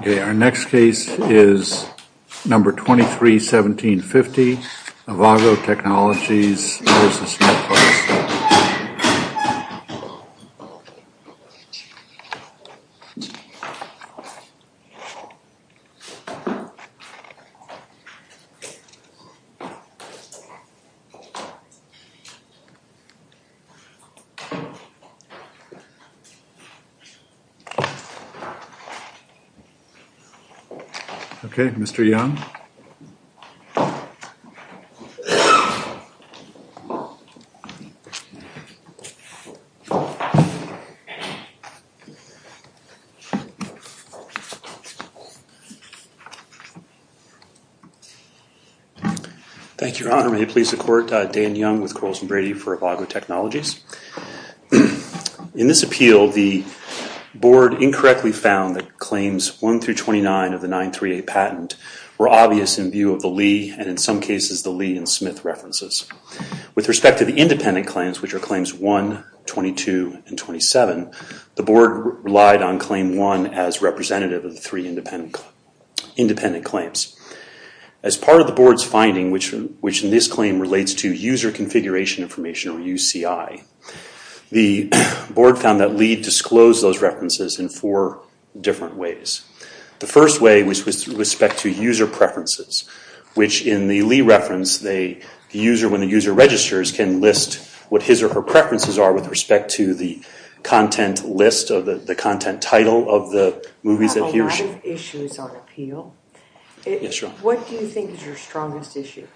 Okay, our next case is number 231750, Avago Technologies v. Netflix. Okay, Mr. Young. Thank you, Your Honor. May it please the Court, Dan Young with Coles and Brady for Avago Technologies. In this appeal, the Board incorrectly found that claims 1 through 29 of the 938 patent were obvious in view of the Lee and, in some cases, the Lee and Smith references. With respect to the independent claims, which are claims 1, 22, and 27, the Board relied on claim 1 as representative of the three independent claims. As part of the Board's finding, which in this claim relates to User Configuration Information, or UCI, the Board found that Lee disclosed those references in four different ways. The first way was with respect to user preferences, which in the Lee reference, the user, when the user registers, can list what his or her preferences are with respect to the content list or the content title of the movies that he or she... Five issues are appeal. What do you think is your strongest issue?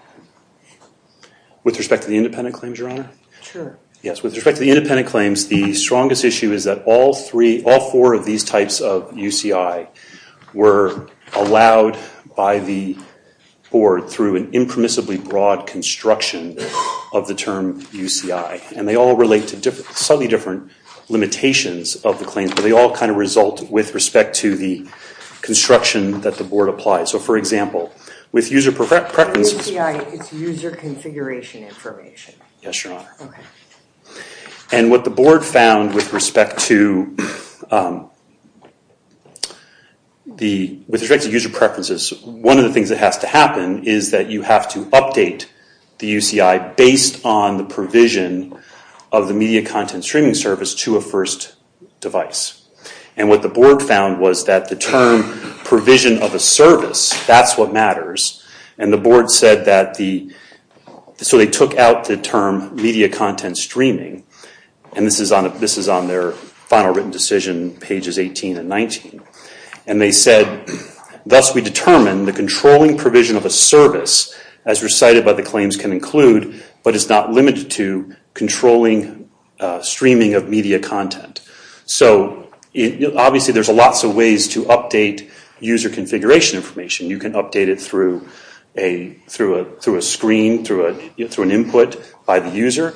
With respect to the independent claims, Your Honor? Sure. Yes, with respect to the independent claims, the strongest issue is that all four of these types of UCI were allowed by the Board through an impermissibly broad construction of the term UCI. They all relate to slightly different limitations of the claims, but they all kind of result with respect to the construction that the Board applies. For example, with user preferences... UCI is User Configuration Information. Yes, Your Honor. Okay. ...of the media content streaming service to a first device. And what the Board found was that the term provision of a service, that's what matters. And the Board said that the... So they took out the term media content streaming, and this is on their final written decision, pages 18 and 19. And they said, thus we determine the controlling provision of a service as recited by the claims can include, but is not limited to, controlling streaming of media content. So, obviously there's lots of ways to update user configuration information. You can update it through a screen, through an input by the user.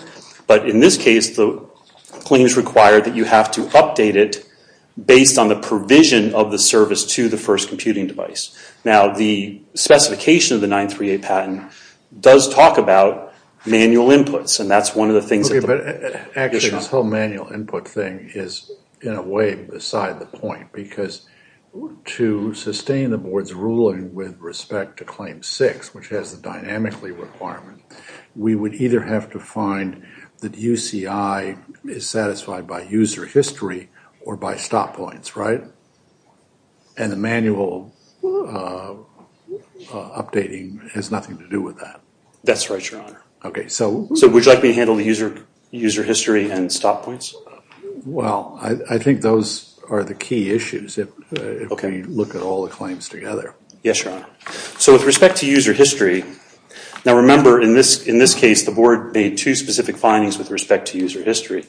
But in this case, the claims require that you have to update it based on the provision of the service to the first computing device. Now, the specification of the 938 patent does talk about manual inputs, and that's one of the things... Okay, but actually this whole manual input thing is, in a way, beside the point. Because to sustain the Board's ruling with respect to Claim 6, which has the dynamically requirement, we would either have to find that UCI is satisfied by user history or by stop points, right? And the manual updating has nothing to do with that. That's right, Your Honor. Okay, so... So would you like me to handle the user history and stop points? Well, I think those are the key issues if we look at all the claims together. Yes, Your Honor. So with respect to user history, now remember in this case the Board made two specific findings with respect to user history.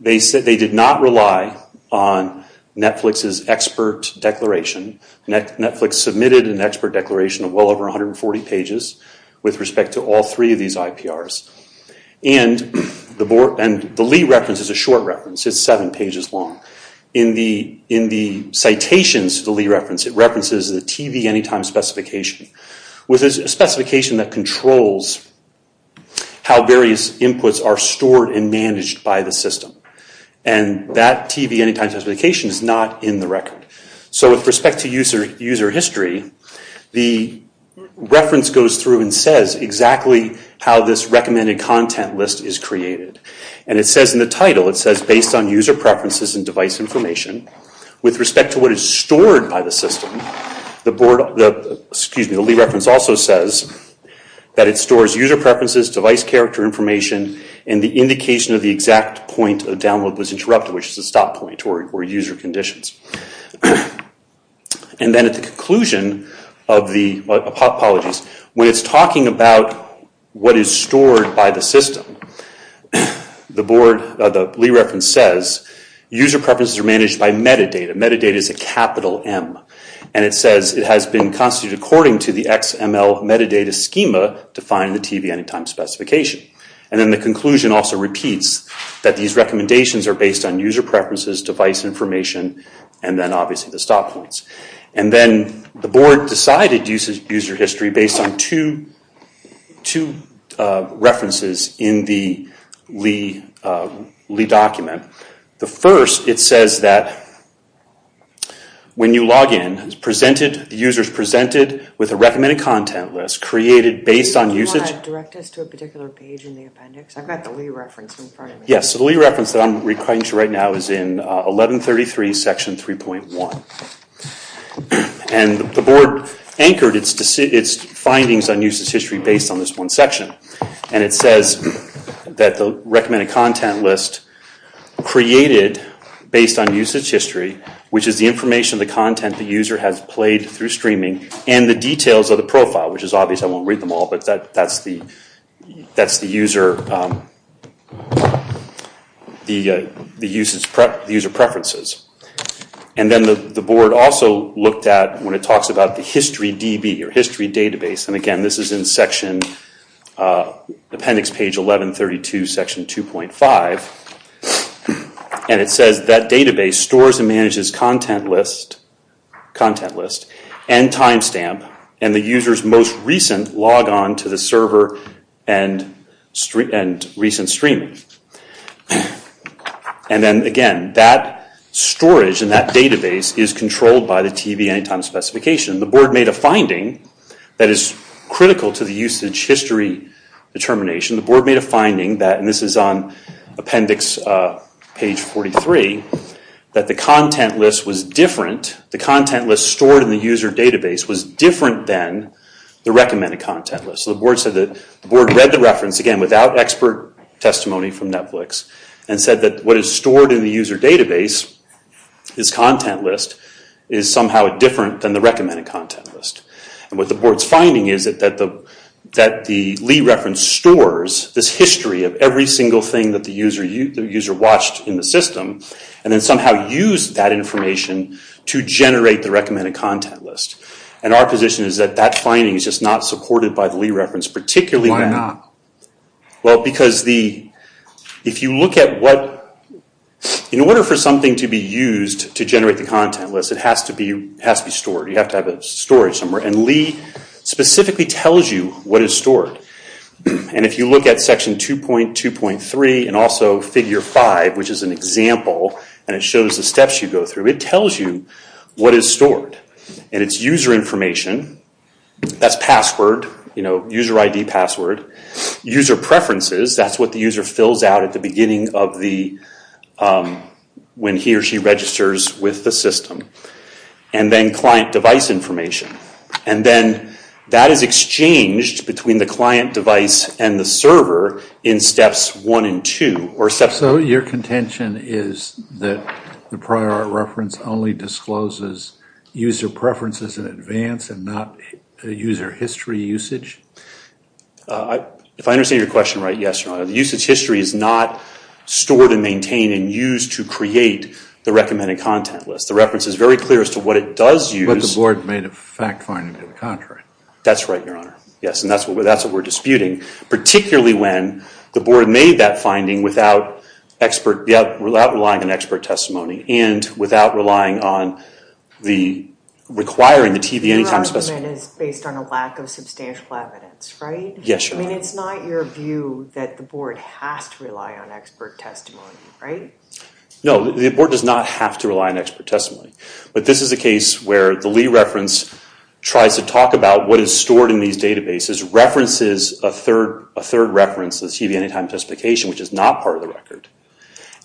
They said they did not rely on Netflix's expert declaration. Netflix submitted an expert declaration of well over 140 pages with respect to all three of these IPRs. And the Lee reference is a short reference. It's seven pages long. In the citations to the Lee reference, it references the TV Anytime Specification, which is a specification that controls how various inputs are stored and managed by the system. And that TV Anytime Specification is not in the record. So with respect to user history, the reference goes through and says exactly how this recommended content list is created. And it says in the title, it says based on user preferences and device information, with respect to what is stored by the system, the Lee reference also says that it stores user preferences, device character information, and the indication of the exact point of download was interrupted, which is a stop point for user conditions. And then at the conclusion of the, apologies, when it's talking about what is stored by the system, the Lee reference says user preferences are managed by metadata. Metadata is a capital M. And it says it has been constituted according to the XML metadata schema to find the TV Anytime Specification. And then the conclusion also repeats that these recommendations are based on user preferences, device information, and then obviously the stop points. And then the board decided to use user history based on two references in the Lee document. The first, it says that when you log in, the user is presented with a recommended content list created based on usage. Can you direct us to a particular page in the appendix? I've got the Lee reference in front of me. Yes, so the Lee reference that I'm referring to right now is in 1133 section 3.1. And the board anchored its findings on usage history based on this one section. And it says that the recommended content list created based on usage history, which is the information, the content the user has played through streaming, and the details of the profile, which is obvious I won't read them all, but that's the user preferences. And then the board also looked at, when it talks about the history DB or history database, and again this is in appendix page 1132 section 2.5, and it says that database stores and manages content list, and timestamp, and the user's most recent logon to the server and recent streaming. And then again, that storage and that database is controlled by the TB anytime specification. The board made a finding that is critical to the usage history determination. The board made a finding that, and this is on appendix page 43, that the content list was different, the content list stored in the user database, was different than the recommended content list. So the board said that the board read the reference, again without expert testimony from Netflix, and said that what is stored in the user database, this content list, is somehow different than the recommended content list. And what the board's finding is that the Lee reference stores this history of every single thing that the user watched in the system, and then somehow used that information to generate the recommended content list. And our position is that that finding is just not supported by the Lee reference, particularly... Well, because if you look at what... In order for something to be used to generate the content list, it has to be stored. You have to have a storage somewhere, and Lee specifically tells you what is stored. And if you look at section 2.2.3 and also figure 5, which is an example, and it shows the steps you go through, it tells you what is stored. And it's user information, that's password, user ID password, user preferences, that's what the user fills out at the beginning of the... when he or she registers with the system. And then client device information, and then that is exchanged between the client device and the server in steps 1 and 2. So your contention is that the prior art reference only discloses user preferences in advance and not user history usage? If I understand your question right, yes, your honor. The usage history is not stored and maintained and used to create the recommended content list. The reference is very clear as to what it does use... But the board made a fact finding to the contrary. That's right, your honor. Yes, and that's what we're disputing. Particularly when the board made that finding without relying on expert testimony and without relying on the... requiring the TV anytime... Your argument is based on a lack of substantial evidence, right? Yes, your honor. I mean, it's not your view that the board has to rely on expert testimony, right? No, the board does not have to rely on expert testimony. But this is a case where the Lee reference tries to talk about what is stored in these databases, references a third reference, the TV anytime testification, which is not part of the record,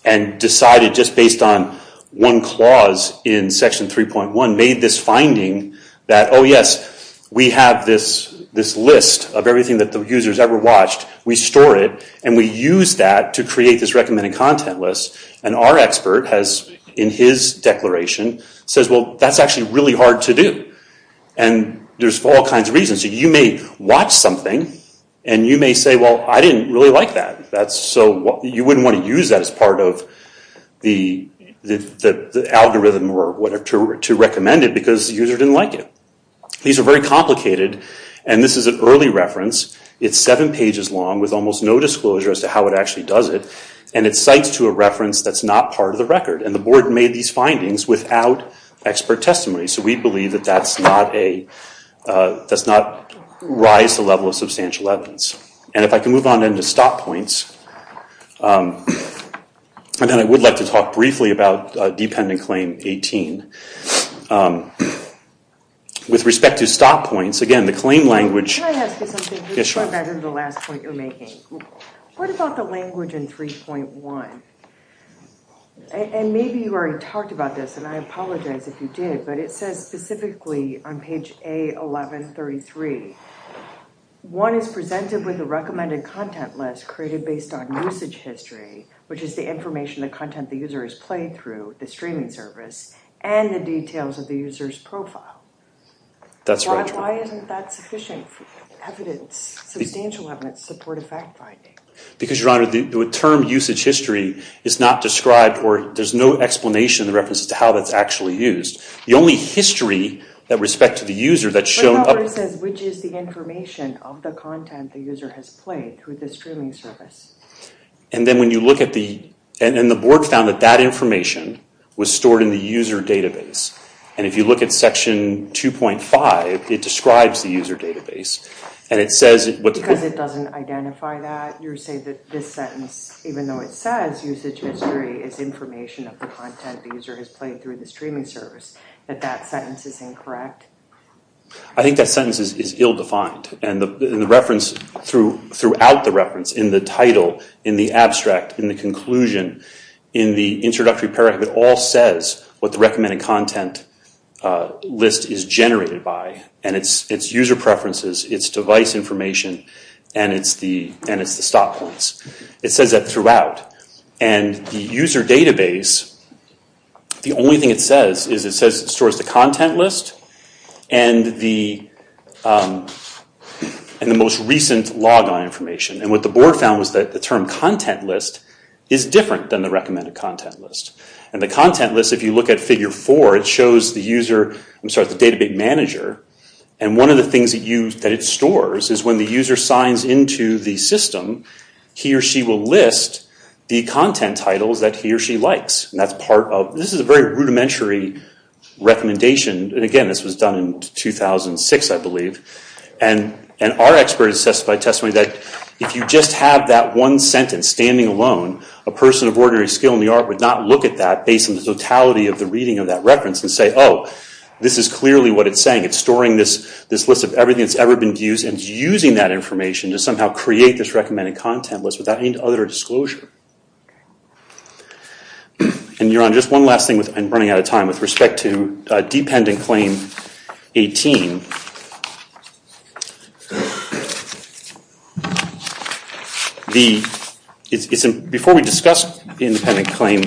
and decided just based on one clause in section 3.1, made this finding that, oh yes, we have this list of everything that the user's ever watched, we store it, and we use that to create this recommended content list. And our expert has, in his declaration, says, well, that's actually really hard to do. And there's all kinds of reasons. You may watch something and you may say, well, I didn't really like that. You wouldn't want to use that as part of the algorithm or whatever to recommend it because the user didn't like it. These are very complicated, and this is an early reference. It's seven pages long with almost no disclosure as to how it actually does it, and it cites to a reference that's not part of the record. And the board made these findings without expert testimony. So we believe that that does not rise the level of substantial evidence. And if I can move on then to stop points, and then I would like to talk briefly about dependent claim 18. With respect to stop points, again, the claim language Can I ask you something before I go to the last point you're making? What about the language in 3.1? And maybe you already talked about this, and I apologize if you did, but it says specifically on page A1133, one is presented with a recommended content list created based on usage history, which is the information, the content the user has played through, the streaming service, and the details of the user's profile. That's right. Why isn't that sufficient evidence, substantial evidence, to support a fact-finding? Because, Your Honor, the term usage history is not described, or there's no explanation in the references to how that's actually used. The only history with respect to the user that's shown up Which is the information of the content the user has played through the streaming service. And then when you look at the, and the board found that that information was stored in the user database. And if you look at section 2.5, it describes the user database. And it says... Because it doesn't identify that? You're saying that this sentence, even though it says usage history, is information of the content the user has played through the streaming service, that that sentence is incorrect? I think that sentence is ill-defined. And the reference throughout the reference, in the title, in the abstract, in the conclusion, in the introductory paragraph, it all says what the recommended content list is generated by. And it's user preferences, it's device information, and it's the stop points. It says that throughout. And the user database, the only thing it says is it stores the content list and the most recent logon information. And what the board found was that the term content list is different than the recommended content list. And the content list, if you look at figure 4, it shows the user, I'm sorry, the database manager. And one of the things that it stores is when the user signs into the system, he or she will list the content titles that he or she likes. And that's part of, this is a very rudimentary recommendation. And again, this was done in 2006, I believe. And our expert has testified that if you just have that one sentence and it's standing alone, a person of ordinary skill in the art would not look at that based on the totality of the reading of that reference and say, oh, this is clearly what it's saying. It's storing this list of everything that's ever been used and using that information to somehow create this recommended content list without any other disclosure. And, Yaron, just one last thing, I'm running out of time, with respect to dependent claim 18. Before we discuss independent claim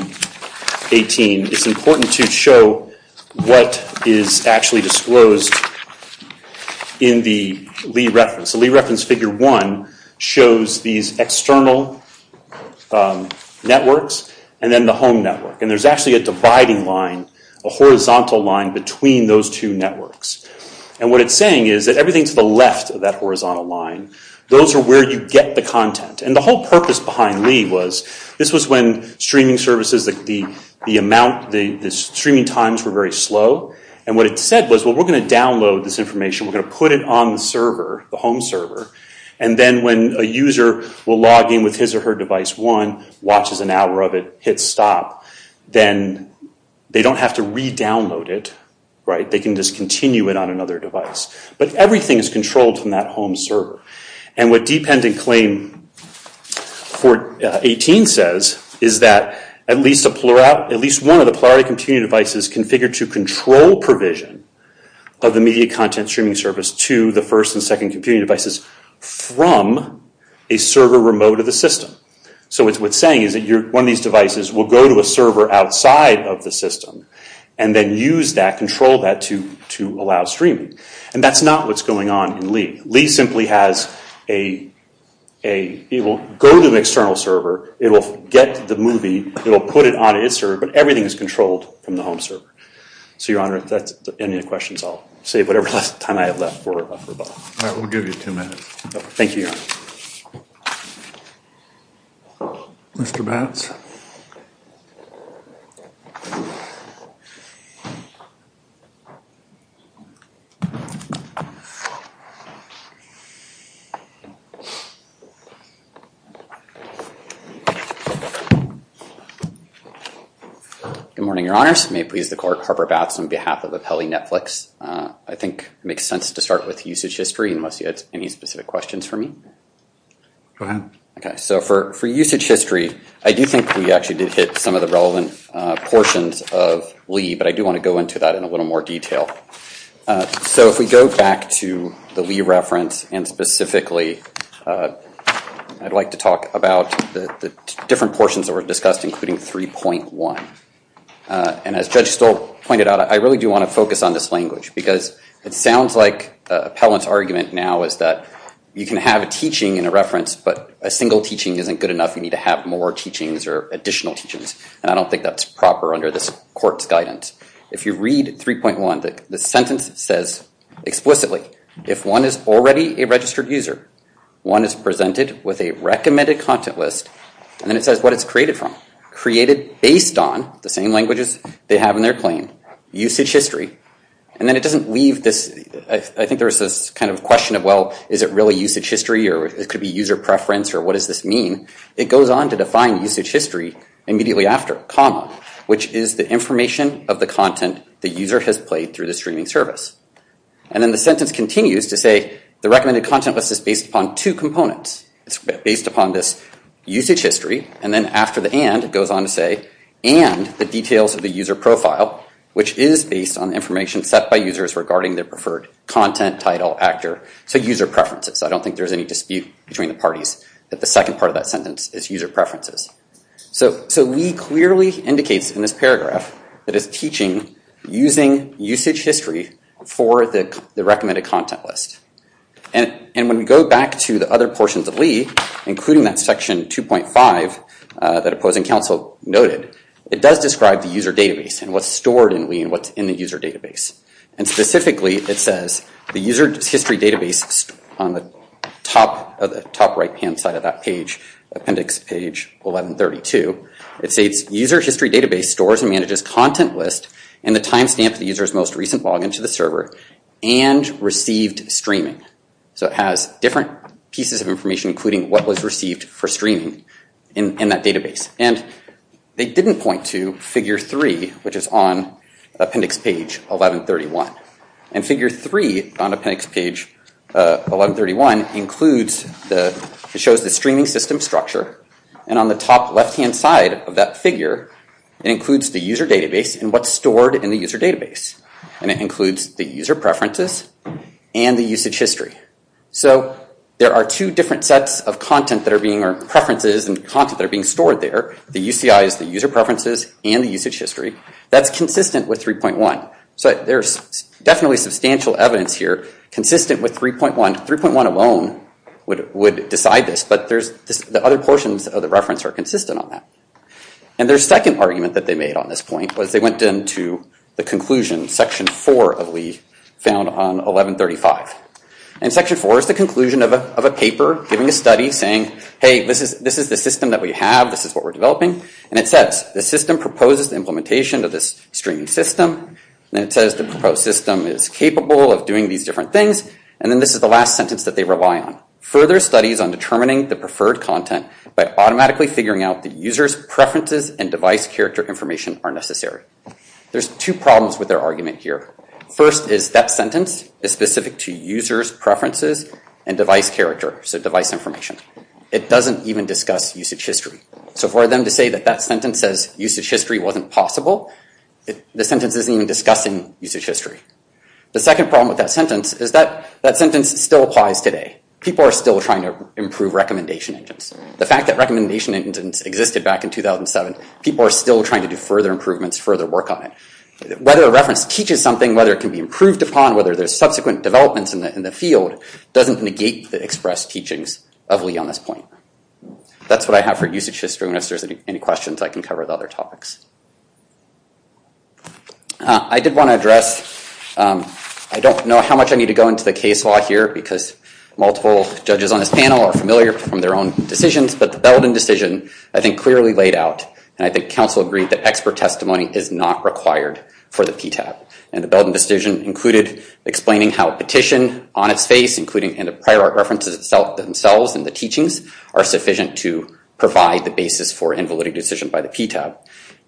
18, it's important to show what is actually disclosed in the Lee reference. The Lee reference figure 1 shows these external networks and then the home network. And there's actually a dividing line, a horizontal line, between those two networks. And what it's saying is that everything to the left of that horizontal line, those are where you get the content. And the whole purpose behind Lee was, this was when streaming services, the amount, the streaming times were very slow. And what it said was, well, we're going to download this information, we're going to put it on the server, the home server. And then when a user will log in with his or her device 1, watches an hour of it, hits stop, then they don't have to re-download it. They can just continue it on another device. But everything is controlled from that home server. And what dependent claim 18 says is that at least one of the Polarity computing devices configured to control provision of the media content streaming service to the first and second computing devices from a server remote of the system. So what it's saying is that one of these devices will go to a server outside of the system and then use that, control that, to allow streaming. And that's not what's going on in Lee. Lee simply has a, it will go to an external server, it will get the movie, it will put it on its server, but everything is controlled from the home server. So, Your Honor, that's the end of the questions. I'll save whatever time I have left for Bob. All right, we'll give you two minutes. Thank you, Your Honor. Mr. Batts. Good morning, Your Honors. May it please the Court, Harper Batts on behalf of Apelli Netflix. I think it makes sense to start with usage history unless you had any specific questions for me. Go ahead. Okay, so for usage history, I do think we actually did hit some of the relevant portions of Lee, but I do want to go into that in a little more detail. So if we go back to the Lee reference and specifically, I'd like to talk about the different portions that were discussed, including 3.1. And as Judge Stoll pointed out, I really do want to focus on this language because it sounds like Appellant's argument now is that you can have a teaching in a reference, but a single teaching isn't good enough. You need to have more teachings or additional teachings. And I don't think that's proper under this Court's guidance. If you read 3.1, the sentence says explicitly, if one is already a registered user, one is presented with a recommended content list, and then it says what it's created from. Created based on the same languages they have in their claim. Usage history. And then it doesn't leave this, I think there's this kind of question of, well, is it really usage history, or it could be user preference, or what does this mean? It goes on to define usage history immediately after, comma, which is the information of the content the user has played through the streaming service. And then the sentence continues to say the recommended content list is based upon two components. It's based upon this usage history, and then after the and, it goes on to say, and the details of the user profile, which is based on information set by users regarding their preferred content title, actor, so user preferences. I don't think there's any dispute between the parties that the second part of that sentence is user preferences. So Lee clearly indicates in this paragraph that it's teaching using usage history for the recommended content list. And when we go back to the other portions of Lee, including that section 2.5 that Opposing Counsel noted, it does describe the user database and what's stored in Lee and what's in the user database. And specifically it says the user history database on the top right-hand side of that page, appendix page 1132, it states user history database stores and manages content list and the timestamp of the user's most recent login to the server and received streaming. So it has different pieces of information, including what was received for streaming in that database. And they didn't point to figure three, which is on appendix page 1131. And figure three on appendix page 1131 includes the, it shows the streaming system structure. And on the top left-hand side of that figure, it includes the user database and what's stored in the user database. And it includes the user preferences and the usage history. So there are two different sets of content that are being, or preferences and content that are being stored there. The UCI is the user preferences and the usage history. That's consistent with 3.1. So there's definitely substantial evidence here consistent with 3.1. 3.1 alone would decide this, but there's the other portions of the reference are consistent on that. And their second argument that they made on this point was they went into the conclusion, section four of Lee found on 1135. And section four is the conclusion of a paper giving a study saying, hey, this is the system that we have. This is what we're developing. And it says the system proposes the implementation of this streaming system. And it says the proposed system is capable of doing these different things. And then this is the last sentence that they rely on. Further studies on determining the preferred content by automatically figuring out the user's preferences and device character information are necessary. There's two problems with their argument here. First is that sentence is specific to user's preferences and device character. So device information. It doesn't even discuss usage history. So for them to say that that sentence says usage history wasn't possible, the sentence isn't even discussing usage history. The second problem with that sentence is that that sentence still applies today. People are still trying to improve recommendation engines. The fact that recommendation engines existed back in 2007, people are still trying to do further improvements, further work on it. Whether a reference teaches something, whether it can be improved upon, whether there's subsequent developments in the field, doesn't negate the expressed teachings of Lee on this point. That's what I have for usage history. And if there's any questions, I can cover the other topics. I did want to address, I don't know how much I need to go into the case law here because multiple judges on this panel are familiar from their own decisions. But the Belden decision, I think, clearly laid out. And I think counsel agreed that expert testimony is not required for the PTAB. And the Belden decision included explaining how petition on its face, including in the prior art references themselves and the teachings, are sufficient to provide the basis for invalidity decision by the PTAB.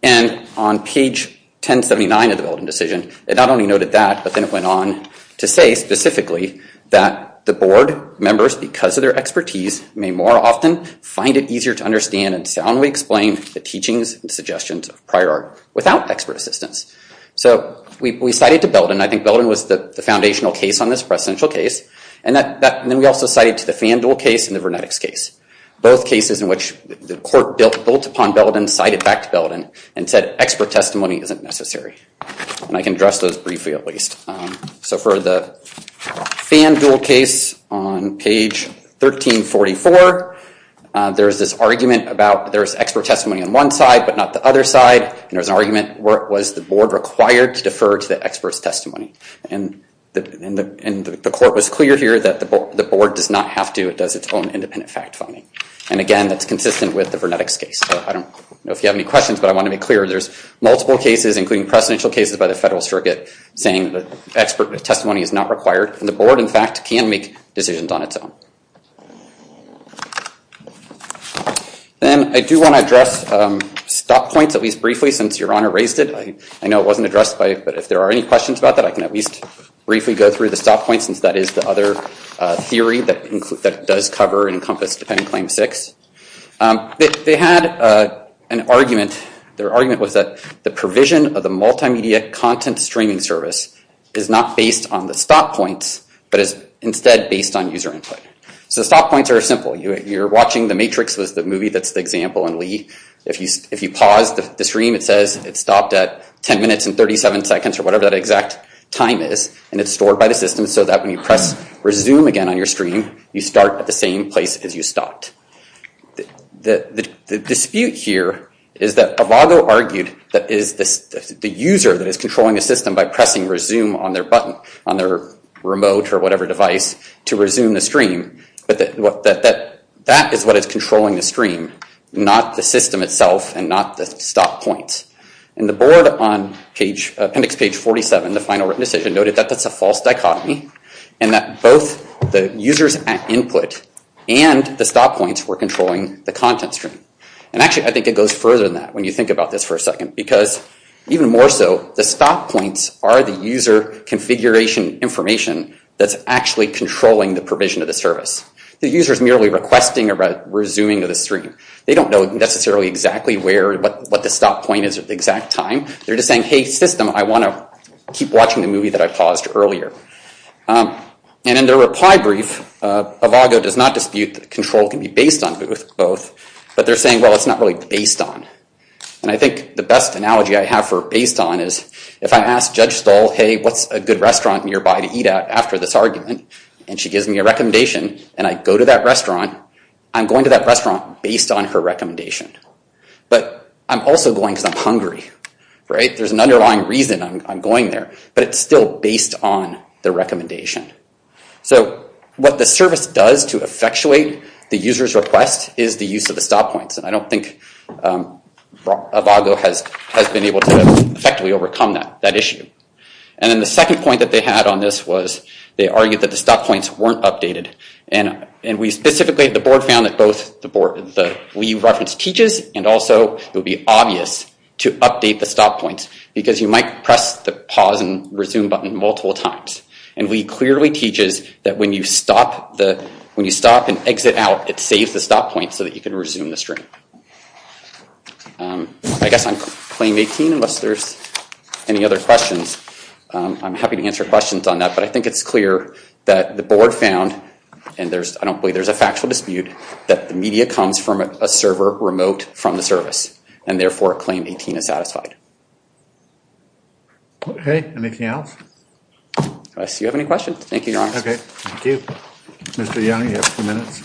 And on page 1079 of the Belden decision, it not only noted that, but then it went on to say specifically that the board members, because of their expertise, may more often find it easier to understand and soundly explain the teachings and suggestions of prior art without expert assistance. So we cited to Belden. I think Belden was the foundational case on this presidential case. And then we also cited to the FanDuel case and the Vernetics case, both cases in which the court built upon Belden, cited back to Belden, and said expert testimony isn't necessary. And I can address those briefly at least. So for the FanDuel case on page 1344, there's this argument about there's expert testimony on one side but not the other side. And there's an argument, was the board required to defer to the expert's testimony? And the court was clear here that the board does not have to. It does its own independent fact finding. And again, that's consistent with the Vernetics case. I don't know if you have any questions, but I want to be clear. There's multiple cases, including presidential cases by the federal circuit, saying that expert testimony is not required. And the board, in fact, can make decisions on its own. Then I do want to address stop points, at least briefly, since Your Honor raised it. I know it wasn't addressed, but if there are any questions about that, I can at least briefly go through the stop points, since that is the other theory that does cover and encompass Dependent Claim 6. They had an argument. Their argument was that the provision of the multimedia content streaming service is not based on the stop points, but is instead based on user input. So stop points are simple. You're watching The Matrix, the movie that's the example in Lee. If you pause the stream, it says it stopped at 10 minutes and 37 seconds or whatever that exact time is, and it's stored by the system so that when you press resume again on your stream, you start at the same place as you stopped. The dispute here is that Abago argued that the user that is controlling the system by pressing resume on their button, on their remote or whatever device, to resume the stream, that that is what is controlling the stream, not the system itself and not the stop points. And the board on appendix page 47, the final written decision, noted that that's a false dichotomy and that both the users at input and the stop points were controlling the content stream. And actually, I think it goes further than that when you think about this for a second, because even more so, the stop points are the user configuration information that's actually controlling the provision of the service. The user is merely requesting a resuming of the stream. They don't know necessarily exactly what the stop point is at the exact time. They're just saying, hey, system, I want to keep watching the movie that I paused earlier. And in their reply brief, Abago does not dispute that control can be based on both, but they're saying, well, it's not really based on. And I think the best analogy I have for based on is if I ask Judge Stahl, hey, what's a good restaurant nearby to eat at after this argument, and she gives me a recommendation and I go to that restaurant, I'm going to that restaurant based on her recommendation. But I'm also going because I'm hungry, right? There's an underlying reason I'm going there, but it's still based on the recommendation. So what the service does to effectuate the user's request is the use of the stop points. And I don't think Abago has been able to effectively overcome that issue. And then the second point that they had on this was they argued that the stop points weren't updated. And we specifically at the board found that both the reference teaches, and also it would be obvious to update the stop points, because you might press the pause and resume button multiple times. And we clearly teaches that when you stop and exit out, it saves the stop point so that you can resume the stream. I guess on claim 18, unless there's any other questions, I'm happy to answer questions on that. But I think it's clear that the board found, and I don't believe there's a factual dispute, that the media comes from a server remote from the service, and therefore claim 18 is satisfied. Okay. Anything else? Unless you have any questions. Thank you, Your Honor. Okay. Thank you. Mr. Young, you have a few minutes.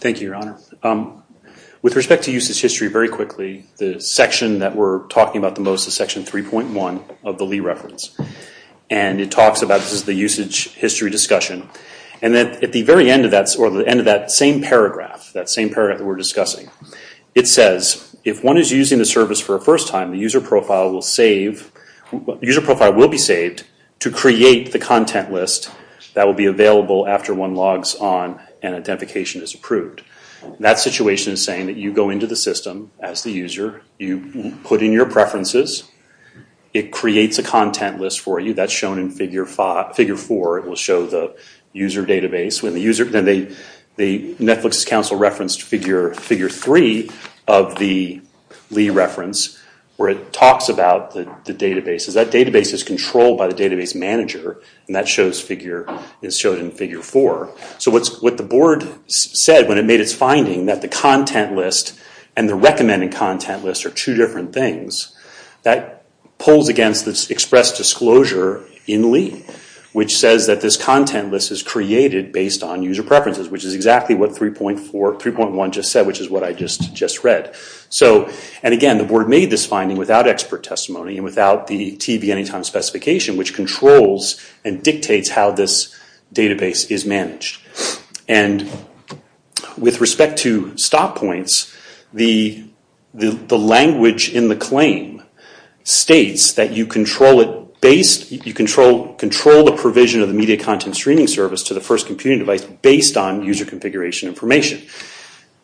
Thank you, Your Honor. With respect to user's history, very quickly, the section that we're talking about the most is section 3.1 of the Lee reference. And it talks about the usage history discussion. And at the very end of that same paragraph, that same paragraph that we're discussing, it says, if one is using the service for the first time, the user profile will be saved to create the content list that will be available after one logs on and identification is approved. That situation is saying that you go into the system as the user, you put in your preferences, it creates a content list for you. That's shown in figure 4. It will show the user database. The Netflix Council referenced figure 3 of the Lee reference, where it talks about the databases. That database is controlled by the database manager, and that is shown in figure 4. So what the board said when it made its finding, that the content list and the recommended content list are two different things, that pulls against this express disclosure in Lee, which says that this content list is created based on user preferences, which is exactly what 3.1 just said, which is what I just read. And again, the board made this finding without expert testimony and without the TV Anytime specification, which controls and dictates how this database is managed. And with respect to stop points, the language in the claim states that you control the provision of the media content streaming service to the first computing device based on user configuration information.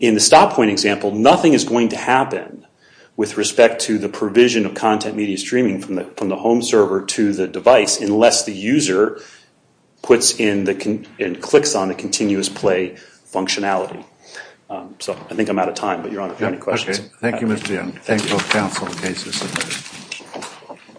In the stop point example, nothing is going to happen with respect to the provision of content media streaming from the home server to the device unless the user clicks on the continuous play functionality. So I think I'm out of time, but Your Honor, if you have any questions. Okay. Thank you, Mr. Young. Thank you.